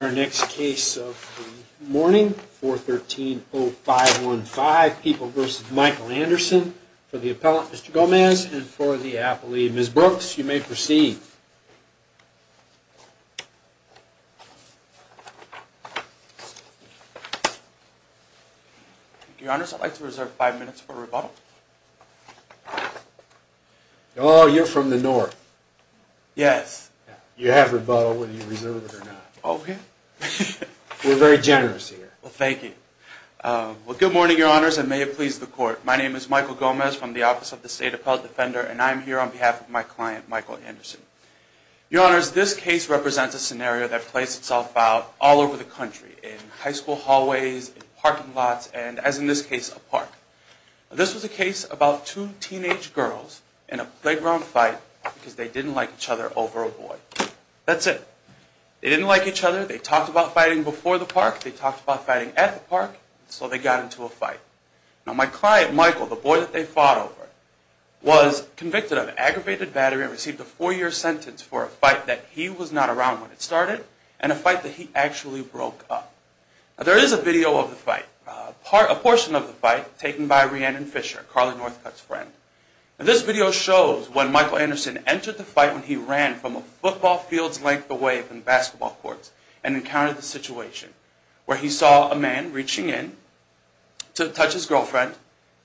Our next case of the morning, 413-0515, People v. Michael Anderson, for the appellant, Mr. Gomez, and for the appellee, Ms. Brooks, you may proceed. Your Honor, I'd like to reserve five minutes for rebuttal. Oh, you're from the North. Yes. You have rebuttal whether you reserve it or not. Okay. We're very generous here. Well, thank you. Well, good morning, Your Honors, and may it please the Court. My name is Michael Gomez from the Office of the State Appellate Defender, and I am here on behalf of my client, Michael Anderson. Your Honors, this case represents a scenario that plays itself out all over the country, in high school hallways, in parking lots, and as in this case, a park. This was a case about two teenage girls in a playground fight because they didn't like each other over a boy. That's it. They didn't like each other. They talked about fighting before the park. They talked about fighting at the park, and so they got into a fight. Now, my client, Michael, the boy that they fought over, was convicted of aggravated battery and received a four-year sentence for a fight that he was not around when it started and a fight that he actually broke up. Now, there is a video of the fight, a portion of the fight, taken by Rhiannon Fisher, Carly Northcutt's friend. Now, this video shows when Michael Anderson entered the fight when he ran from a football field's length away from the basketball courts and encountered the situation, where he saw a man reaching in to touch his girlfriend,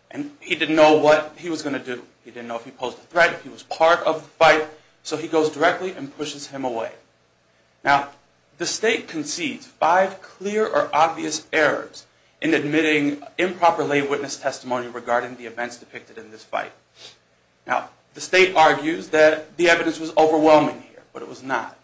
and he didn't know what he was going to do. He didn't know if he posed a threat, if he was part of the fight, so he goes directly and pushes him away. Now, the state concedes five clear or obvious errors in admitting improper lay witness testimony regarding the events depicted in this fight. Now, the state argues that the evidence was overwhelming here, but it was not.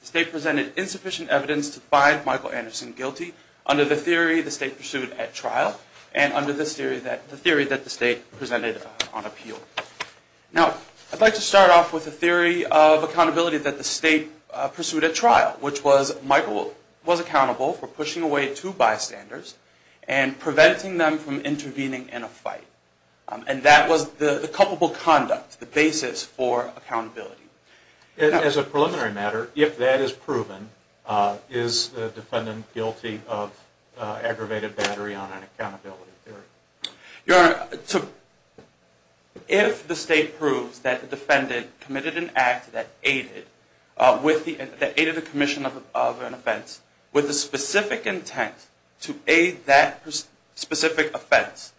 The state presented insufficient evidence to find Michael Anderson guilty under the theory the state pursued at trial and under the theory that the state presented on appeal. Now, I'd like to start off with the theory of accountability that the state pursued at trial, which was Michael was accountable for pushing away two bystanders and preventing them from intervening in a fight. And that was the culpable conduct, the basis for accountability. As a preliminary matter, if that is proven, is the defendant guilty of aggravated battery on an accountability theory? Your Honor, if the state proves that the defendant committed an act that aided the commission of an offense with a specific intent to aid that specific offense,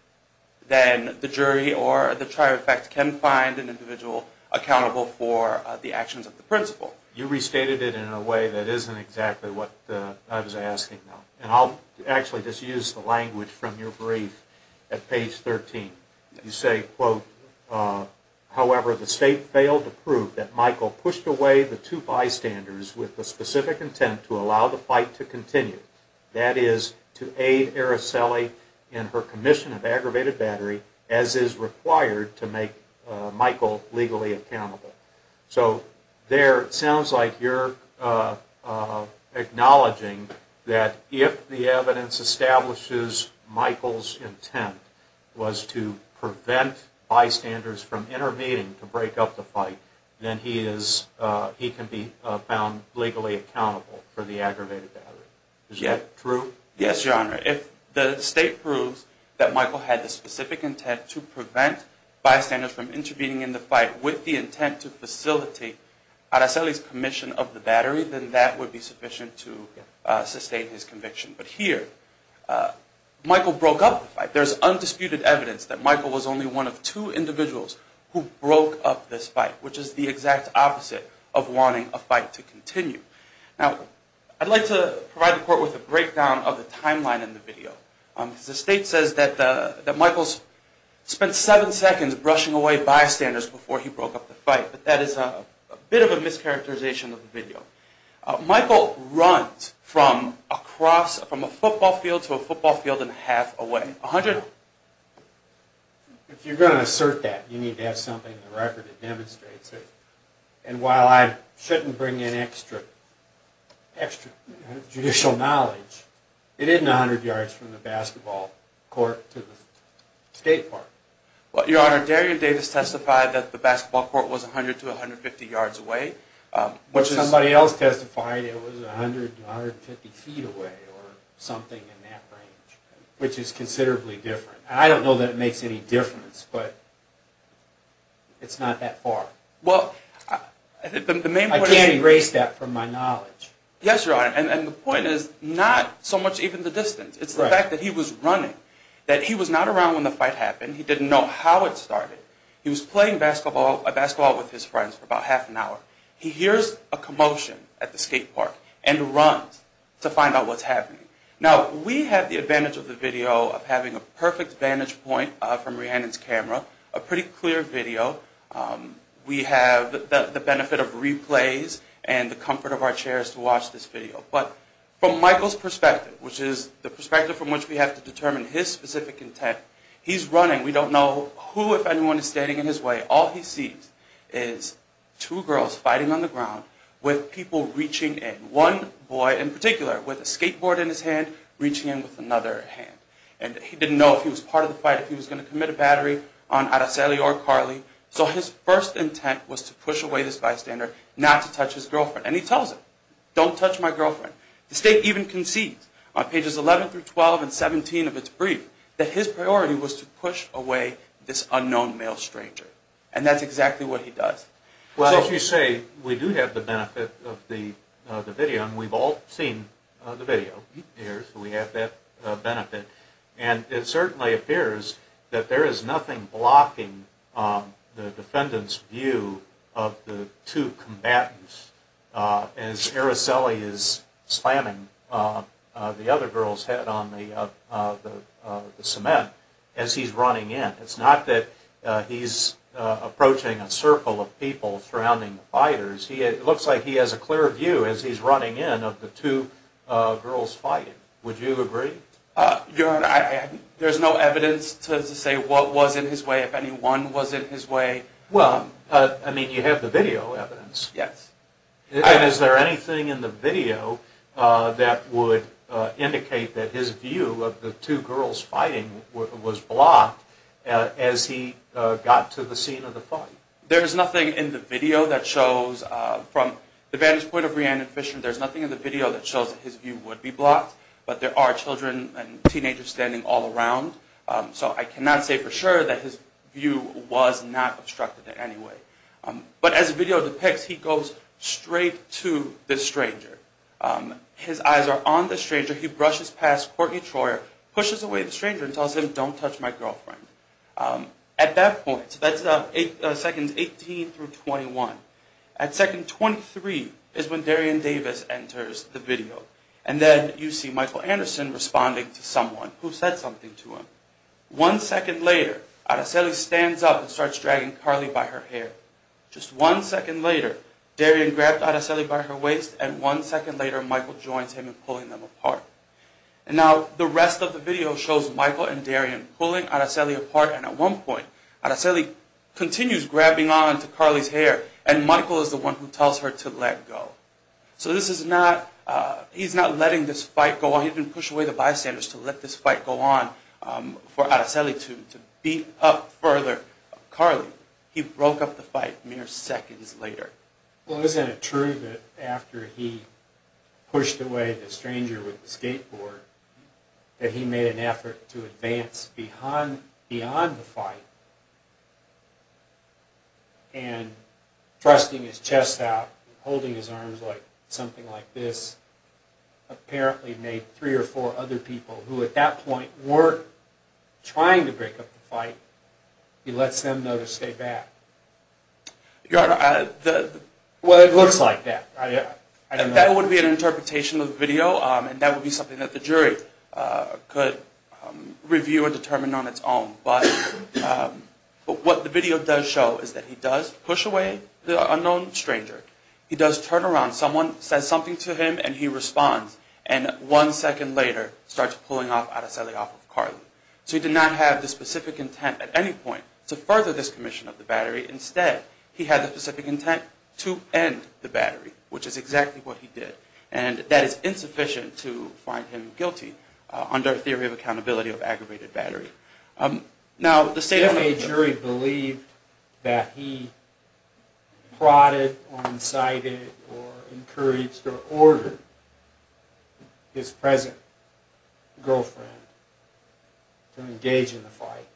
then the jury or the trier of fact can find an individual accountable for the actions of the principal. You restated it in a way that isn't exactly what I was asking. And I'll actually just use the language from your brief at page 13. You say, quote, however, the state failed to prove that Michael pushed away the two bystanders with the specific intent to allow the fight to continue. That is, to aid Araceli in her commission of aggravated battery as is required to make Michael legally accountable. So there it sounds like you're acknowledging that if the evidence establishes Michael's intent was to prevent bystanders from intervening to break up the fight, then he can be found legally accountable for the aggravated battery. Is that true? Yes, Your Honor. If the state proves that Michael had the specific intent to prevent bystanders from intervening in the fight with the intent to facilitate Araceli's commission of the battery, then that would be sufficient to sustain his conviction. But here, Michael broke up the fight. There's undisputed evidence that Michael was only one of two individuals who broke up this fight, which is the exact opposite of wanting a fight to continue. Now, I'd like to provide the court with a breakdown of the timeline in the video. The state says that Michael spent seven seconds brushing away bystanders before he broke up the fight, but that is a bit of a mischaracterization of the video. Michael runs from a football field to a football field and a half away. If you're going to assert that, you need to have something in the record that demonstrates it. And while I shouldn't bring in extra judicial knowledge, it isn't 100 yards from the basketball court to the skate park. Your Honor, Darian Davis testified that the basketball court was 100 to 150 yards away. Somebody else testified it was 100 to 150 feet away or something in that range, which is considerably different. I don't know that it makes any difference, but it's not that far. I can't erase that from my knowledge. Yes, Your Honor, and the point is not so much even the distance. It's the fact that he was running, that he was not around when the fight happened. He didn't know how it started. He was playing basketball with his friends for about half an hour. He hears a commotion at the skate park and runs to find out what's happening. Now, we have the advantage of the video of having a perfect vantage point from Rhiannon's camera, a pretty clear video. We have the benefit of replays and the comfort of our chairs to watch this video. But from Michael's perspective, which is the perspective from which we have to determine his specific intent, he's running. We don't know who, if anyone, is standing in his way. All he sees is two girls fighting on the ground with people reaching in. One boy in particular with a skateboard in his hand reaching in with another hand. And he didn't know if he was part of the fight, if he was going to commit a battery on Aracely or Carly. So his first intent was to push away this bystander, not to touch his girlfriend. And he tells her, don't touch my girlfriend. The state even concedes on pages 11 through 12 and 17 of its brief that his priority was to push away this unknown male stranger. And that's exactly what he does. Well, as you say, we do have the benefit of the video. And we've all seen the video here. So we have that benefit. And it certainly appears that there is nothing blocking the defendant's view of the two combatants as Aracely is slamming the other girl's head on the cement as he's running in. It's not that he's approaching a circle of people surrounding the fighters. It looks like he has a clear view as he's running in of the two girls fighting. Would you agree? Your Honor, there's no evidence to say what was in his way, if any one was in his way. Well, I mean, you have the video evidence. Yes. And is there anything in the video that would indicate that his view of the two girls fighting was blocked as he got to the scene of the fight? There is nothing in the video that shows, from the vantage point of Rhiannon Fisher, there's nothing in the video that shows that his view would be blocked. But there are children and teenagers standing all around. So I cannot say for sure that his view was not obstructed in any way. But as the video depicts, he goes straight to this stranger. His eyes are on the stranger. He brushes past Courtney Troyer, pushes away the stranger, and tells him, don't touch my girlfriend. At that point, that's seconds 18 through 21. At second 23 is when Darian Davis enters the video. And then you see Michael Anderson responding to someone who said something to him. One second later, Araceli stands up and starts dragging Carly by her hair. Just one second later, Darian grabs Araceli by her waist, and one second later, Michael joins him in pulling them apart. Now, the rest of the video shows Michael and Darian pulling Araceli apart, and at one point, Araceli continues grabbing onto Carly's hair, and Michael is the one who tells her to let go. So he's not letting this fight go on. He didn't push away the bystanders to let this fight go on for Araceli to beat up further Carly. He broke up the fight mere seconds later. Well, isn't it true that after he pushed away the stranger with the skateboard, that he made an effort to advance beyond the fight, and thrusting his chest out, holding his arms like something like this, apparently made three or four other people who at that point weren't trying to break up the fight, he lets them know to stay back? Well, it looks like that. That would be an interpretation of the video, and that would be something that the jury could review or determine on its own. But what the video does show is that he does push away the unknown stranger. He does turn around. Someone says something to him, and he responds. So he did not have the specific intent at any point to further this commission of the battery. Instead, he had the specific intent to end the battery, which is exactly what he did, and that is insufficient to find him guilty under a theory of accountability of aggravated battery. Now, the state of the jury believed that he prodded or incited or encouraged or ordered his present girlfriend to engage in the fight,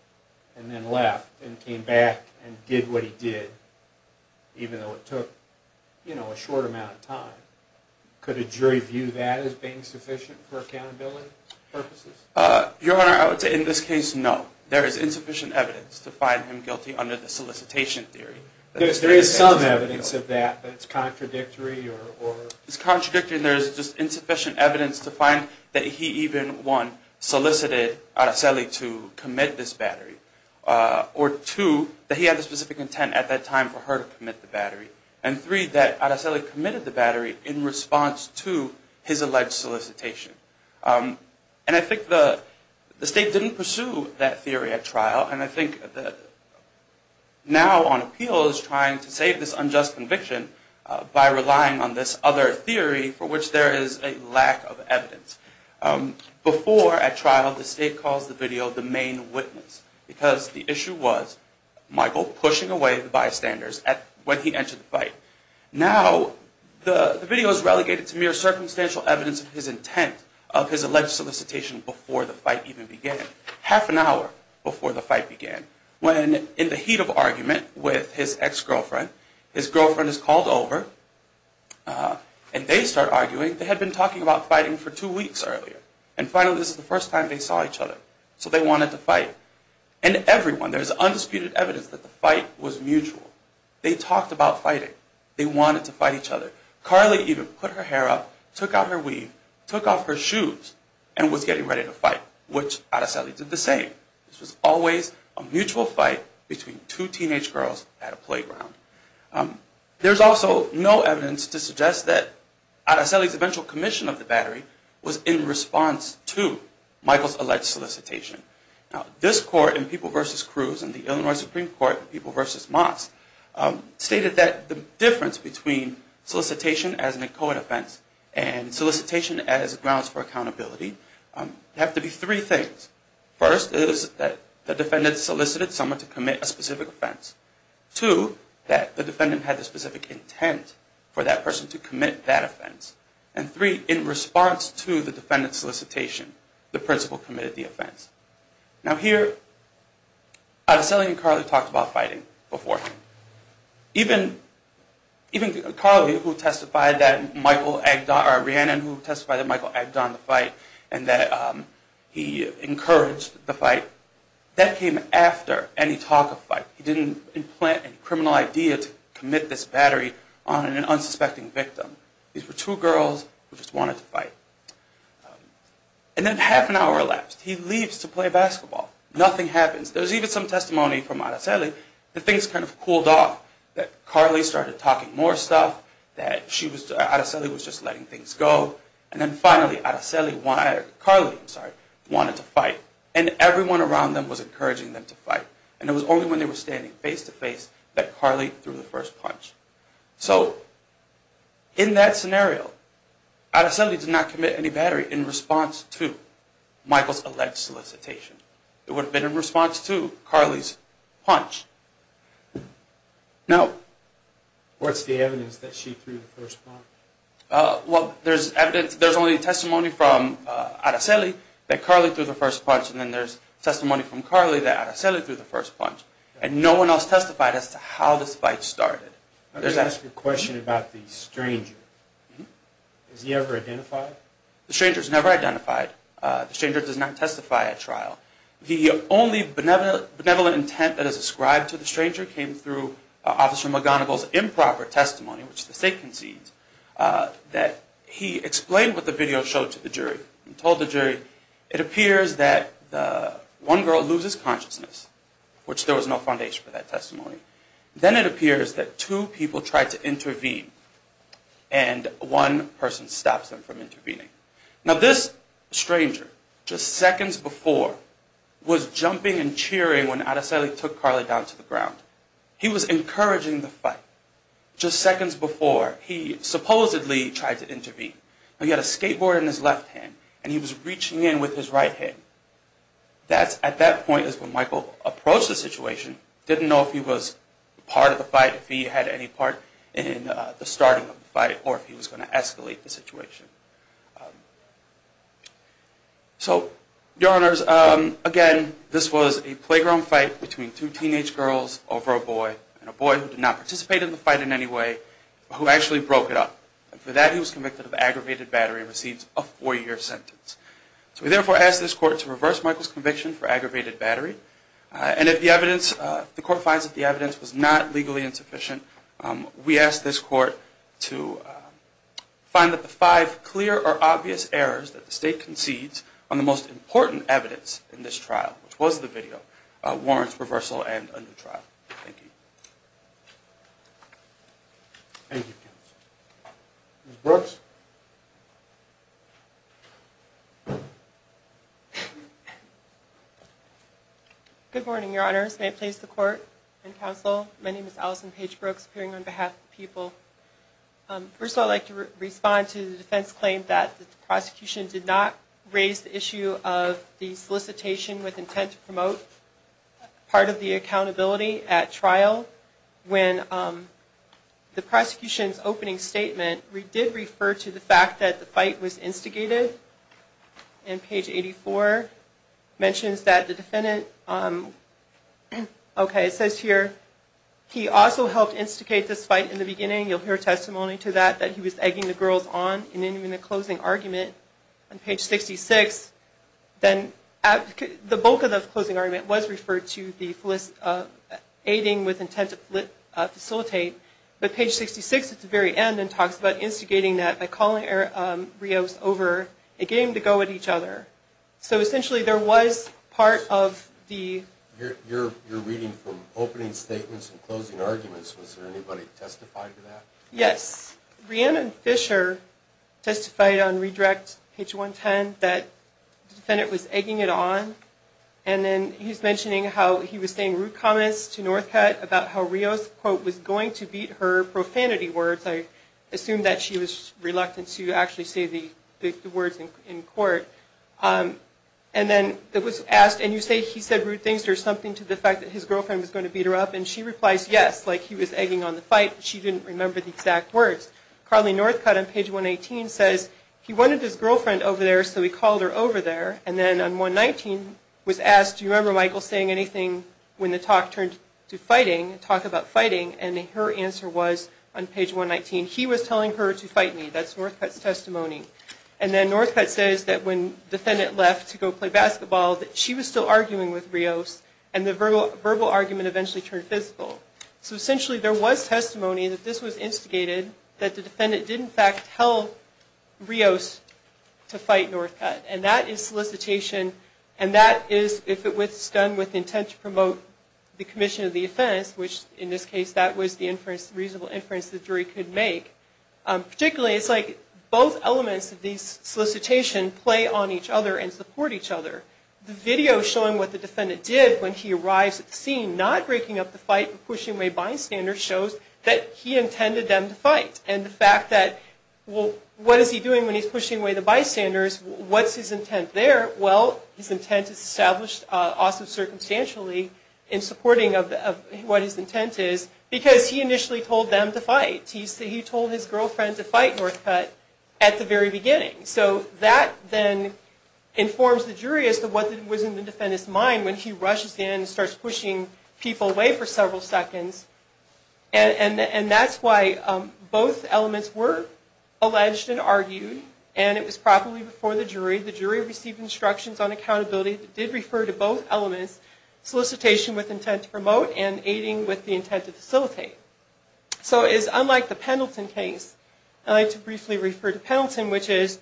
and then left and came back and did what he did, even though it took a short amount of time. Could a jury view that as being sufficient for accountability purposes? Your Honor, I would say in this case, no. There is insufficient evidence to find him guilty under the solicitation theory. There is some evidence of that that's contradictory? It's contradictory, and there is just insufficient evidence to find that he even, one, solicited Araceli to commit this battery, or two, that he had the specific intent at that time for her to commit the battery, and three, that Araceli committed the battery in response to his alleged solicitation. And I think the state didn't pursue that theory at trial, and I think now on appeal is trying to save this unjust conviction by relying on this other theory for which there is a lack of evidence. Before, at trial, the state calls the video the main witness, because the issue was Michael pushing away the bystanders when he entered the fight. Now, the video is relegated to mere circumstantial evidence of his intent of his alleged solicitation before the fight even began, half an hour before the fight began, when in the heat of argument with his ex-girlfriend, his girlfriend is called over, and they start arguing. They had been talking about fighting for two weeks earlier, and finally this is the first time they saw each other, so they wanted to fight, and everyone, there is undisputed evidence that the fight was mutual. They talked about fighting, they wanted to fight each other. Carly even put her hair up, took out her weave, took off her shoes, and was getting ready to fight, which Araceli did the same. This was always a mutual fight between two teenage girls at a playground. There is also no evidence to suggest that Araceli's eventual commission of the battery was in response to Michael's alleged solicitation. Now, this court in People v. Cruz and the Illinois Supreme Court in People v. Moss stated that the difference between solicitation as an echoed offense and solicitation as grounds for accountability have to be three things. First is that the defendant solicited someone to commit a specific offense. Two, that the defendant had the specific intent for that person to commit that offense. And three, in response to the defendant's solicitation, the principal committed the offense. Now here, Araceli and Carly talked about fighting beforehand. Even Carly, who testified that Michael Agdon, or Rhiannon, who testified that Michael Agdon had done the fight and that he encouraged the fight, that came after any talk of fight. He didn't implant any criminal idea to commit this battery on an unsuspecting victim. These were two girls who just wanted to fight. And then half an hour elapsed. He leaves to play basketball. Nothing happens. There's even some testimony from Araceli that things kind of cooled off. That Carly started talking more stuff, that Araceli was just letting things go. And then finally, Carly wanted to fight. And everyone around them was encouraging them to fight. And it was only when they were standing face-to-face that Carly threw the first punch. So, in that scenario, Araceli did not commit any battery in response to Michael's alleged solicitation. It would have been in response to Carly's punch. Now, what's the evidence that she threw the first punch? Well, there's evidence, there's only testimony from Araceli that Carly threw the first punch. And then there's testimony from Carly that Araceli threw the first punch. And no one else testified as to how this fight started. Let me ask you a question about the stranger. Was he ever identified? The stranger was never identified. The stranger does not testify at trial. The only benevolent intent that is ascribed to the stranger came through Officer McGonigal's improper testimony, which the state concedes, that he explained what the video showed to the jury. He told the jury, it appears that one girl loses consciousness, which there was no foundation for that testimony. Then it appears that two people tried to intervene, and one person stops them from intervening. Now, this stranger, just seconds before, was jumping and cheering when Araceli took Carly down to the ground. He was encouraging the fight. Now, he had a skateboard in his left hand, and he was reaching in with his right hand. At that point is when Michael approached the situation, didn't know if he was part of the fight, if he had any part in the starting of the fight, or if he was going to escalate the situation. So, Your Honors, again, this was a playground fight between two teenage girls over a boy, and a boy who did not participate in the fight in any way, who actually broke it up. And for that, he was convicted of aggravated battery and receives a four-year sentence. So we therefore ask this Court to reverse Michael's conviction for aggravated battery. And if the evidence, if the Court finds that the evidence was not legally insufficient, we ask this Court to find that the five clear or obvious errors that the state concedes on the most important evidence in this trial, which was the video, warrants reversal and a new trial. Thank you. Thank you, Counsel. Ms. Brooks. Good morning, Your Honors. May it please the Court and Counsel, my name is Allison Paige Brooks, appearing on behalf of the people. First of all, I'd like to respond to the defense claim that the prosecution did not raise the issue of the solicitation with intent to promote part of the accountability at trial when the prosecution's opening statement did refer to the fact that the fight was instigated. And page 84 mentions that the defendant, okay, it says here, he also helped instigate this fight in the beginning. You'll hear testimony to that, that he was egging the girls on. And then in the closing argument on page 66, then the bulk of the closing argument was referred to the aiding with intent to facilitate, but page 66 at the very end then talks about instigating that by calling Rios over, again, to go at each other. So essentially there was part of the... You're reading from opening statements and closing arguments. Was there anybody who testified to that? Yes. Rhiannon Fisher testified on redirect page 110 that the defendant was egging it on. And then he's mentioning how he was saying rude comments to Northcott about how Rios, quote, was going to beat her profanity words. I assume that she was reluctant to actually say the words in court. And then it was asked, and you say he said rude things. There's something to the fact that his girlfriend was going to beat her up. And she replies yes, like he was egging on the fight. She didn't remember the exact words. Carly Northcott on page 118 says he wanted his girlfriend over there, so he called her over there. And then on 119 was asked, do you remember Michael saying anything when the talk turned to fighting, talk about fighting? And her answer was on page 119, he was telling her to fight me. That's Northcott's testimony. And then Northcott says that when the defendant left to go play basketball, that she was still arguing with Rios. And the verbal argument eventually turned physical. So essentially there was testimony that this was instigated, that the defendant did in fact tell Rios to fight Northcott. And that is solicitation, and that is if it was done with intent to promote the commission of the offense, which in this case that was the inference, reasonable inference the jury could make. Particularly, it's like both elements of these solicitations play on each other and support each other. The video showing what the defendant did when he arrives at the scene, not breaking up the fight, pushing away bystanders shows that he intended them to fight. And the fact that, well, what is he doing when he's pushing away the bystanders, what's his intent there? Well, his intent is established also circumstantially in supporting of what his intent is, because he initially told them to fight. He told his girlfriend to fight Northcott at the very beginning. So that then informs the jury as to what was in the defendant's mind when he rushes in and starts pushing people away for several seconds. And that's why both elements were alleged and argued, and it was properly before the jury. The jury received instructions on accountability that did refer to both elements, solicitation with intent to promote and aiding with the intent to facilitate. So it is unlike the Pendleton case. I'd like to briefly refer to Pendleton, which is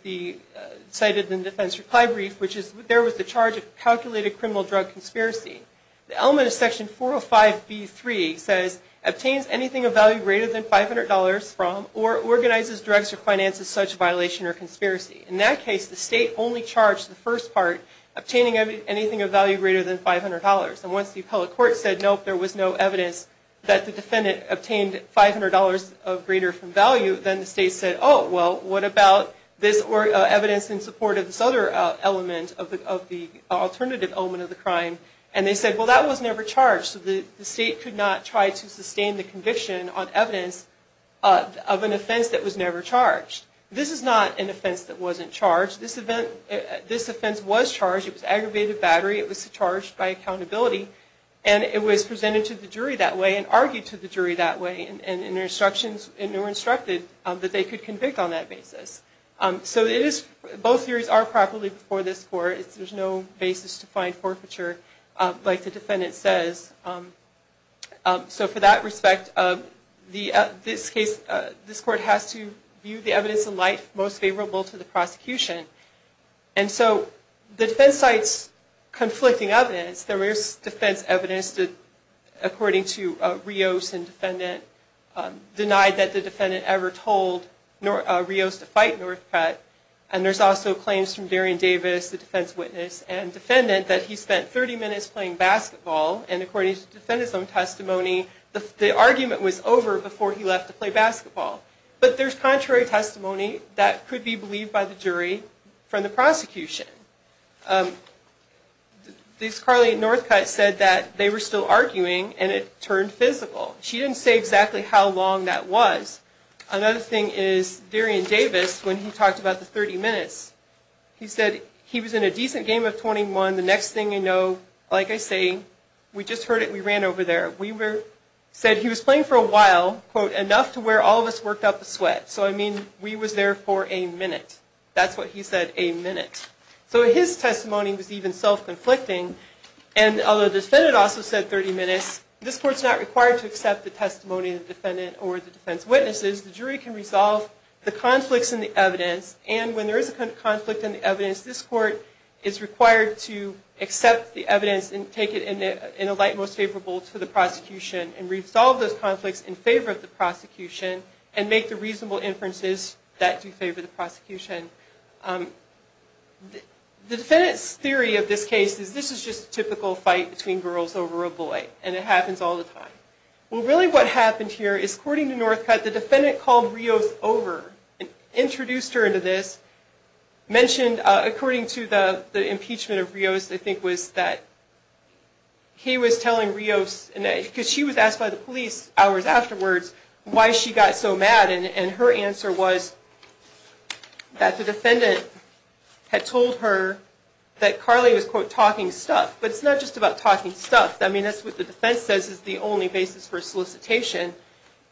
cited in the defense reply brief, which is there was the charge of calculated criminal drug conspiracy. The element of Section 405B3 says, obtains anything of value greater than $500 from or organizes drugs or finances such violation or conspiracy. In that case, the state only charged the first part, obtaining anything of value greater than $500. And once the appellate court said, nope, there was no evidence that the defendant obtained $500 of greater value, then the state said, oh, well, what about this evidence in support of this other element of the alternative element of the crime? And they said, well, that was never charged. So the state could not try to sustain the conviction on evidence of an offense that was never charged. This is not an offense that wasn't charged. This offense was charged. It was aggravated battery. It was charged by accountability. And it was presented to the jury that way and argued to the jury that way. And there were instructions that they could convict on that basis. So both theories are properly before this court. There's no basis to find forfeiture, like the defendant says. So for that respect, this court has to view the evidence in light most favorable to the prosecution. And so the defense cites conflicting evidence. There is defense evidence that, according to Rios and defendant, denied that the defendant ever told Rios to fight Northcott. And there's also claims from Darian Davis, the defense witness and defendant, that he spent 30 minutes playing basketball. And according to the defendant's own testimony, the argument was over before he left to play basketball. But there's contrary testimony that could be believed by the jury from the prosecution. Ms. Carly at Northcott said that they were still arguing and it turned physical. She didn't say exactly how long that was. Another thing is Darian Davis, when he talked about the 30 minutes, he said he was in a decent game of 21. The next thing you know, like I say, we just heard it, we ran over there. He said he was playing for a while, quote, enough to where all of us worked up a sweat. So I mean, we was there for a minute. That's what he said, a minute. So his testimony was even self-conflicting. And although the defendant also said 30 minutes, this court's not required to accept the testimony of the defendant or the defense witnesses. The jury can resolve the conflicts in the evidence. And when there is a conflict in the evidence, this court is required to accept the evidence and take it in a light most favorable to the prosecution and resolve those conflicts in favor of the prosecution and make the reasonable inferences that do favor the prosecution. The defendant's theory of this case is this is just a typical fight between girls over a boy. And it happens all the time. Well, really what happened here is, according to Northcott, the defendant called Rios over, introduced her into this, mentioned, according to the impeachment of Rios, I think was that he was telling Rios, because she was asked by the police hours afterwards why she got so mad. And her answer was that the defendant had told her that Carly was, quote, talking stuff. But it's not just about talking stuff. I mean, that's what the defense says is the only basis for solicitation.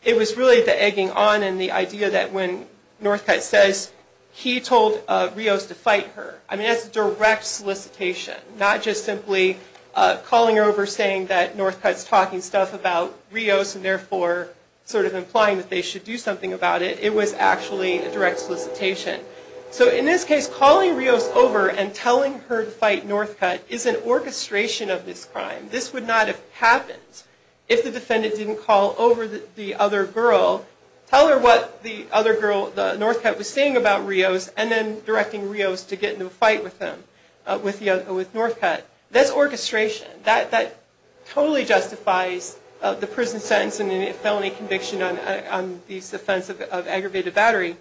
It was really the egging on and the idea that when Northcott says he told Rios to fight her, I mean, that's direct solicitation, not just simply calling her over saying that Northcott's talking stuff about Rios and therefore sort of implying that they should do something about it. It was actually a direct solicitation. So in this case, calling Rios over and telling her to fight Northcott is an orchestration of this crime. This would not have happened if the defendant didn't call over the other girl, tell her what the other girl, Northcott, was saying about Rios, and then directing Rios to get into a fight with them, with Northcott. That's orchestration. That totally justifies the prison sentence and the felony conviction on the offense of aggravated battery.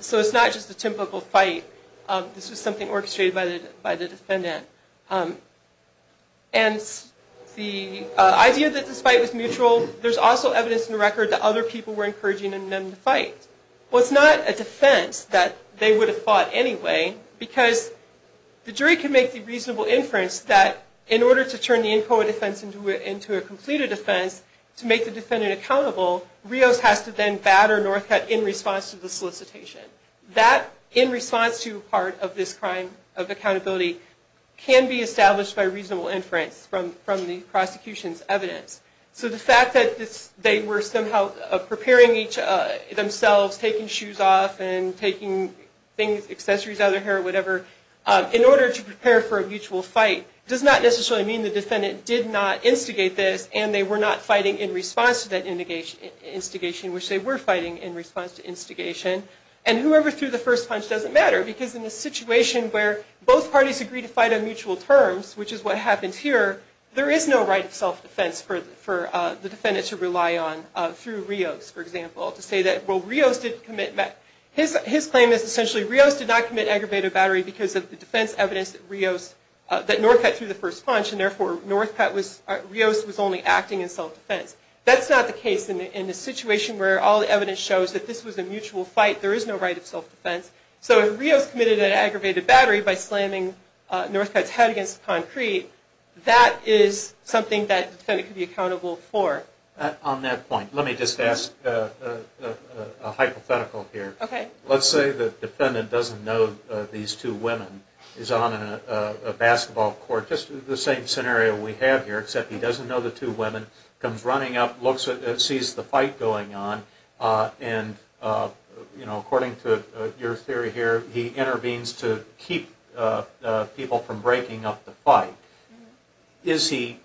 So it's not just a typical fight. This was something orchestrated by the defendant. And the idea that this fight was mutual, there's also evidence in the record that other people were encouraging them to fight. Well, it's not a defense that they would have fought anyway, because the jury can make the reasonable inference that in order to turn the in quo defense into a completed defense, to make the defendant accountable, Rios has to then batter Northcott in response to the solicitation. That, in response to part of this crime of accountability, can be established by reasonable inference from the prosecution's evidence. So the fact that they were somehow preparing themselves, taking shoes off and taking accessories out of their hair or whatever, in order to prepare for a mutual fight, does not necessarily mean the defendant did not instigate this, and they were not fighting in response to that instigation, which they were fighting in response to instigation. And whoever threw the first punch doesn't matter, because in a situation where both parties agree to fight on mutual terms, which is what happens here, there is no right of self-defense for the defendant to rely on, through Rios, for example. To say that, well, Rios did not commit aggravated battery because of the defense evidence that Northcott threw the first punch, and therefore Rios was only acting in self-defense. That's not the case in a situation where all the evidence shows that this was a mutual fight. There is no right of self-defense. So if Rios committed an aggravated battery by slamming Northcott's head against concrete, that is something that the defendant could be accountable for. On that point, let me just ask a hypothetical here. Okay. Let's say the defendant doesn't know these two women, is on a basketball court, just the same scenario we have here, except he doesn't know the two women, comes running up, sees the fight going on, and according to your theory here, he intervenes to keep people from breaking up the fight. Is he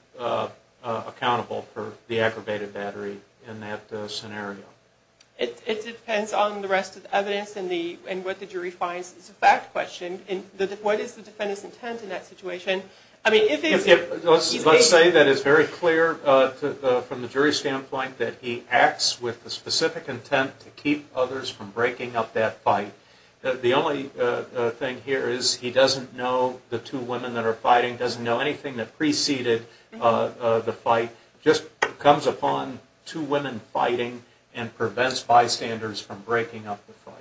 accountable for the aggravated battery in that scenario? It depends on the rest of the evidence and what the jury finds. It's a fact question. What is the defendant's intent in that situation? Let's say that it's very clear from the jury's standpoint that he acts with the specific intent to keep others from breaking up that fight. The only thing here is he doesn't know the two women that are fighting, doesn't know anything that preceded the fight, just comes upon two women fighting and prevents bystanders from breaking up the fight.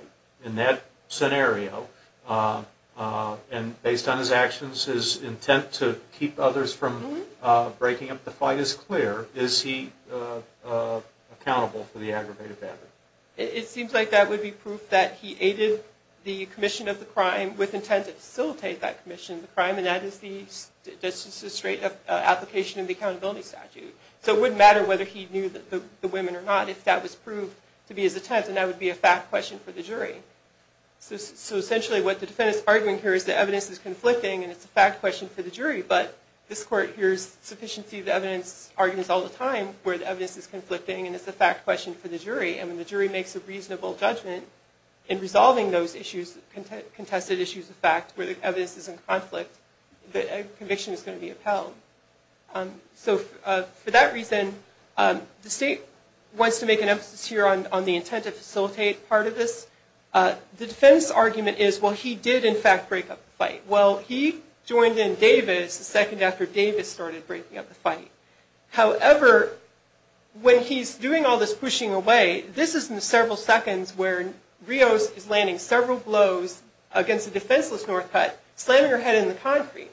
In that scenario, and based on his actions, his intent to keep others from breaking up the fight is clear. Is he accountable for the aggravated battery? It seems like that would be proof that he aided the commission of the crime with intent to facilitate that commission of the crime, and that is the straight application of the accountability statute. So it wouldn't matter whether he knew the women or not if that was proved to be his intent, because then that would be a fact question for the jury. So essentially what the defendant is arguing here is the evidence is conflicting and it's a fact question for the jury, but this court hears sufficiency of the evidence arguments all the time where the evidence is conflicting and it's a fact question for the jury, and when the jury makes a reasonable judgment in resolving those issues, contested issues of fact where the evidence is in conflict, the conviction is going to be upheld. So for that reason, the state wants to make an emphasis here on the intent to facilitate part of this. The defense argument is, well, he did in fact break up the fight. Well, he joined in Davis the second after Davis started breaking up the fight. However, when he's doing all this pushing away, this is in the several seconds where Rios is landing several blows against a defenseless Northcutt, slamming her head in the concrete.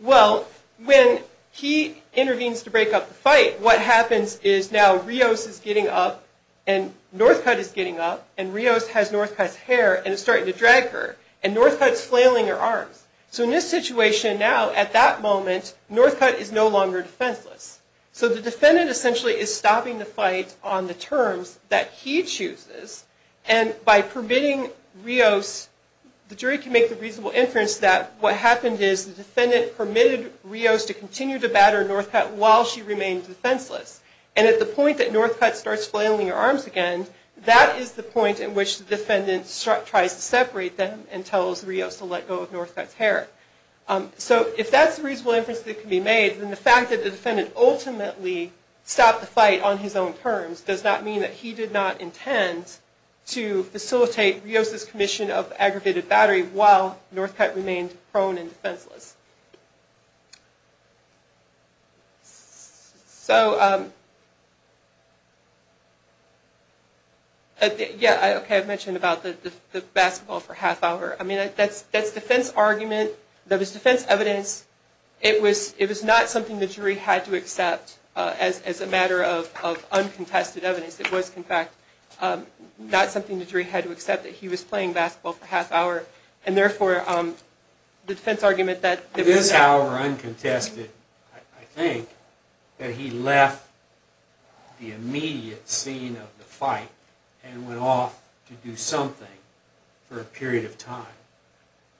Well, when he intervenes to break up the fight, what happens is now Rios is getting up and Northcutt is getting up and Rios has Northcutt's hair and is starting to drag her, and Northcutt is flailing her arms. So in this situation now, at that moment, Northcutt is no longer defenseless. So the defendant essentially is stopping the fight on the terms that he chooses, and by permitting Rios, the jury can make the reasonable inference that what happened is the defendant permitted Rios to continue to batter Northcutt while she remained defenseless. And at the point that Northcutt starts flailing her arms again, that is the point in which the defendant tries to separate them and tells Rios to let go of Northcutt's hair. So if that's the reasonable inference that can be made, then the fact that the defendant ultimately stopped the fight on his own terms does not mean that he did not intend to facilitate Rios' commission of aggravated battery while Northcutt remained prone and defenseless. So, yeah, okay, I mentioned about the basketball for half hour. I mean, that's defense argument. That was defense evidence. It was not something the jury had to accept as a matter of uncontested evidence. It was, in fact, not something the jury had to accept, that he was playing basketball for half hour, and therefore the defense argument that it was not. It is however uncontested, I think, that he left the immediate scene of the fight and went off to do something for a period of time,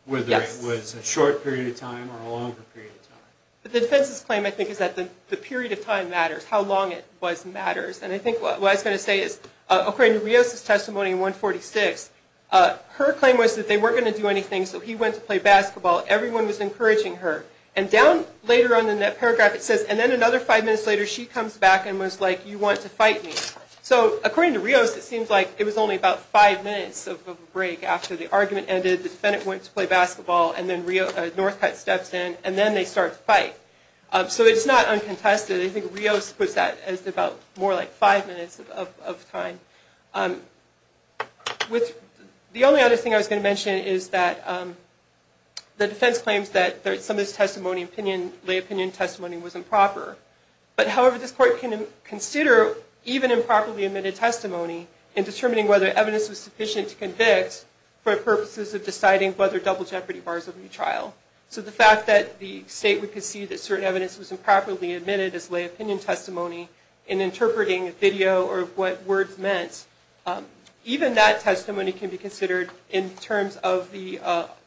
whether it was a short period of time or a longer period of time. But the defense's claim, I think, is that the period of time matters. How long it was matters. And I think what I was going to say is, according to Rios' testimony in 146, her claim was that they weren't going to do anything, so he went to play basketball. Everyone was encouraging her. And down later on in that paragraph it says, and then another five minutes later she comes back and was like, you want to fight me. So according to Rios, it seems like it was only about five minutes of a break after the argument ended, the defendant went to play basketball, and then Northcutt steps in, and then they start to fight. So it's not uncontested. I think Rios puts that as about more like five minutes of time. The only other thing I was going to mention is that the defense claims that some of this testimony, lay opinion testimony, was improper. But however, this court can consider even improperly admitted testimony in determining whether evidence was sufficient to convict for purposes of deciding whether double jeopardy bars are neutral. So the fact that the state would concede that certain evidence was improperly opinion testimony in interpreting video or what words meant, even that testimony can be considered in terms of the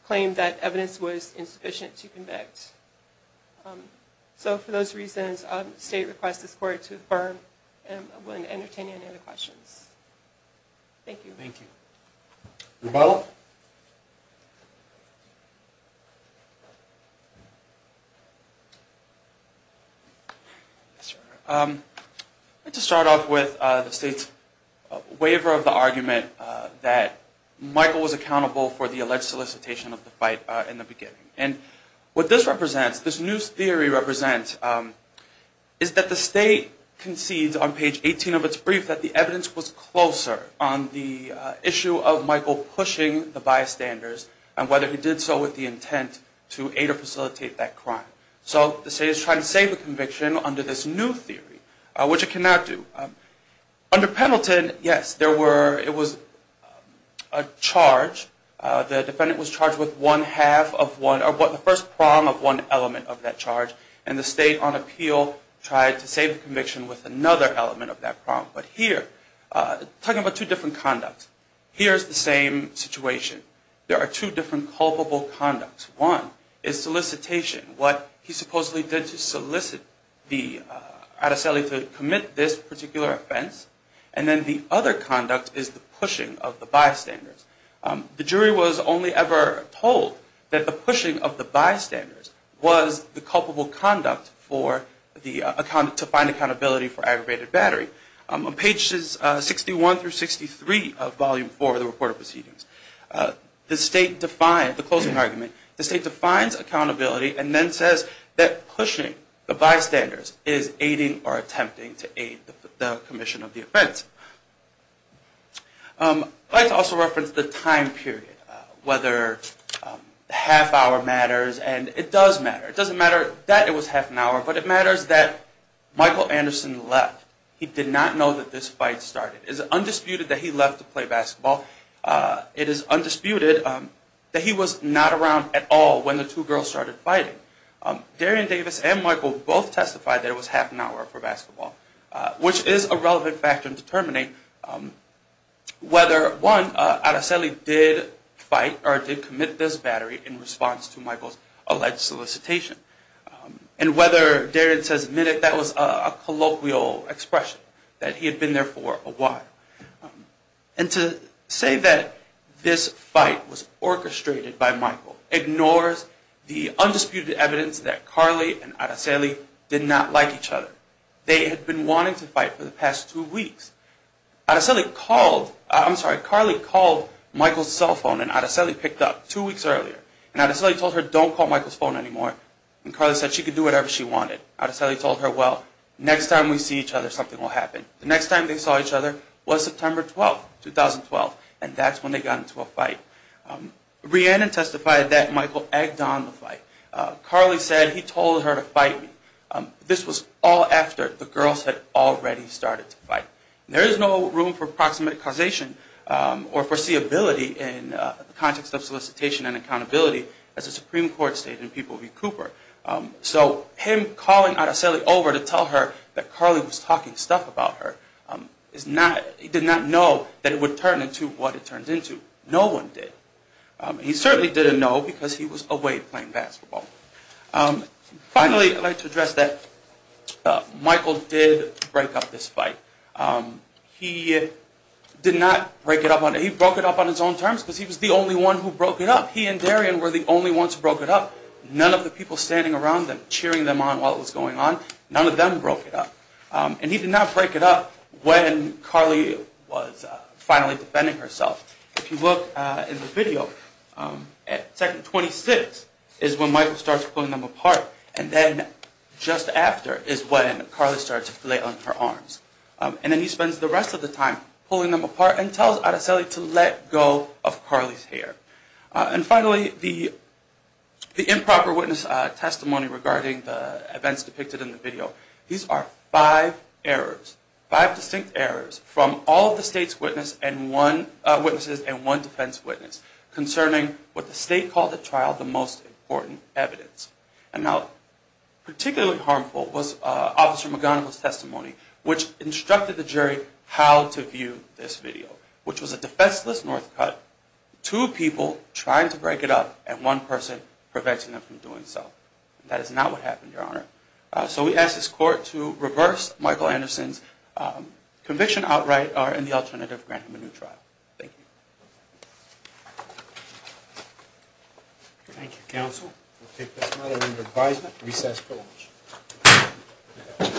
claim that evidence was insufficient to convict. So for those reasons, the state requests this court to affirm. I'm willing to entertain any other questions. Thank you. Rebuttal. I'd like to start off with the state's waiver of the argument that Michael was accountable for the alleged solicitation of the fight in the beginning. And what this represents, this new theory represents, is that the state concedes on page 18 of its brief that the evidence was closer on the issue of Michael pushing the bystanders and whether he did so with the intent to aid or facilitate that crime. So the state is trying to save a conviction under this new theory, which it cannot do. Under Pendleton, yes, it was a charge. The defendant was charged with the first prong of one element of that charge, and the state on appeal tried to save the conviction with another element of that prong. But here, talking about two different conducts, here's the same situation. There are two different culpable conducts. One is solicitation, what he supposedly did to solicit the Araceli to commit this particular offense. And then the other conduct is the pushing of the bystanders. The jury was only ever told that the pushing of the bystanders was the culpable conduct to find accountability for aggravated battery. On pages 61 through 63 of Volume 4 of the Report of Proceedings, the closing argument, the state defines accountability and then says that pushing the bystanders is aiding or attempting to aid the commission of the offense. I'd like to also reference the time period, whether the half hour matters and it does matter. It doesn't matter that it was half an hour, but it matters that Michael Anderson left. He did not know that this fight started. It is undisputed that he left to play basketball. It is undisputed that he was not around at all when the two girls started fighting. Darian Davis and Michael both testified that it was half an hour for basketball, which is a relevant factor to determine whether, one, Araceli did fight or did commit this battery in response to Michael's alleged solicitation. And whether Darian says minute, that was a colloquial expression that he had been there for a while. And to say that this fight was orchestrated by Michael ignores the undisputed evidence that Carly and Araceli did not like each other. They had been wanting to fight for the past two weeks. Araceli called, I'm sorry, Carly called Michael's cell phone and Araceli picked up two weeks earlier. And Araceli told her, don't call Michael's phone anymore. And Carly said she could do whatever she wanted. Araceli told her, well, next time we see each other something will happen. The next time they saw each other was September 12, 2012, and that's when they got into a fight. Rhiannon testified that Michael egged on the fight. Carly said he told her to fight me. This was all after the girls had already started to fight. There is no room for proximate causation or foreseeability in the context of solicitation and accountability as the Supreme Court stated in People v. Cooper. So him calling Araceli over to tell her that Carly was talking stuff about her did not know that it would turn into what it turned into. No one did. He certainly didn't know because he was away playing basketball. Finally, I'd like to address that Michael did break up this fight. He did not break it up. He broke it up on his own terms because he was the only one who broke it up. He and Darian were the only ones who broke it up. None of the people standing around them, cheering them on while it was going on, none of them broke it up. And he did not break it up when Carly was finally defending herself. If you look in the video, second 26 is when Michael starts pulling them apart and then just after is when Carly starts to lay on her arms. And then he spends the rest of the time pulling them apart and tells Araceli to let go of Carly's hair. And finally, the improper witness testimony regarding the events depicted in the video, these are five errors, five distinct errors from all of the witnesses and one defense witness concerning what the state called the trial the most important evidence. And now, particularly harmful was Officer McGonigal's testimony, which instructed the jury how to view this video, which was a defenseless north cut, two people trying to break it up, and one person preventing them from doing so. That is not what happened, Your Honor. So we ask this Court to reverse Michael Anderson's conviction outright or in the alternative grant him a new trial. Thank you. Thank you, Counsel. We'll take this matter under advisement. Recess for lunch.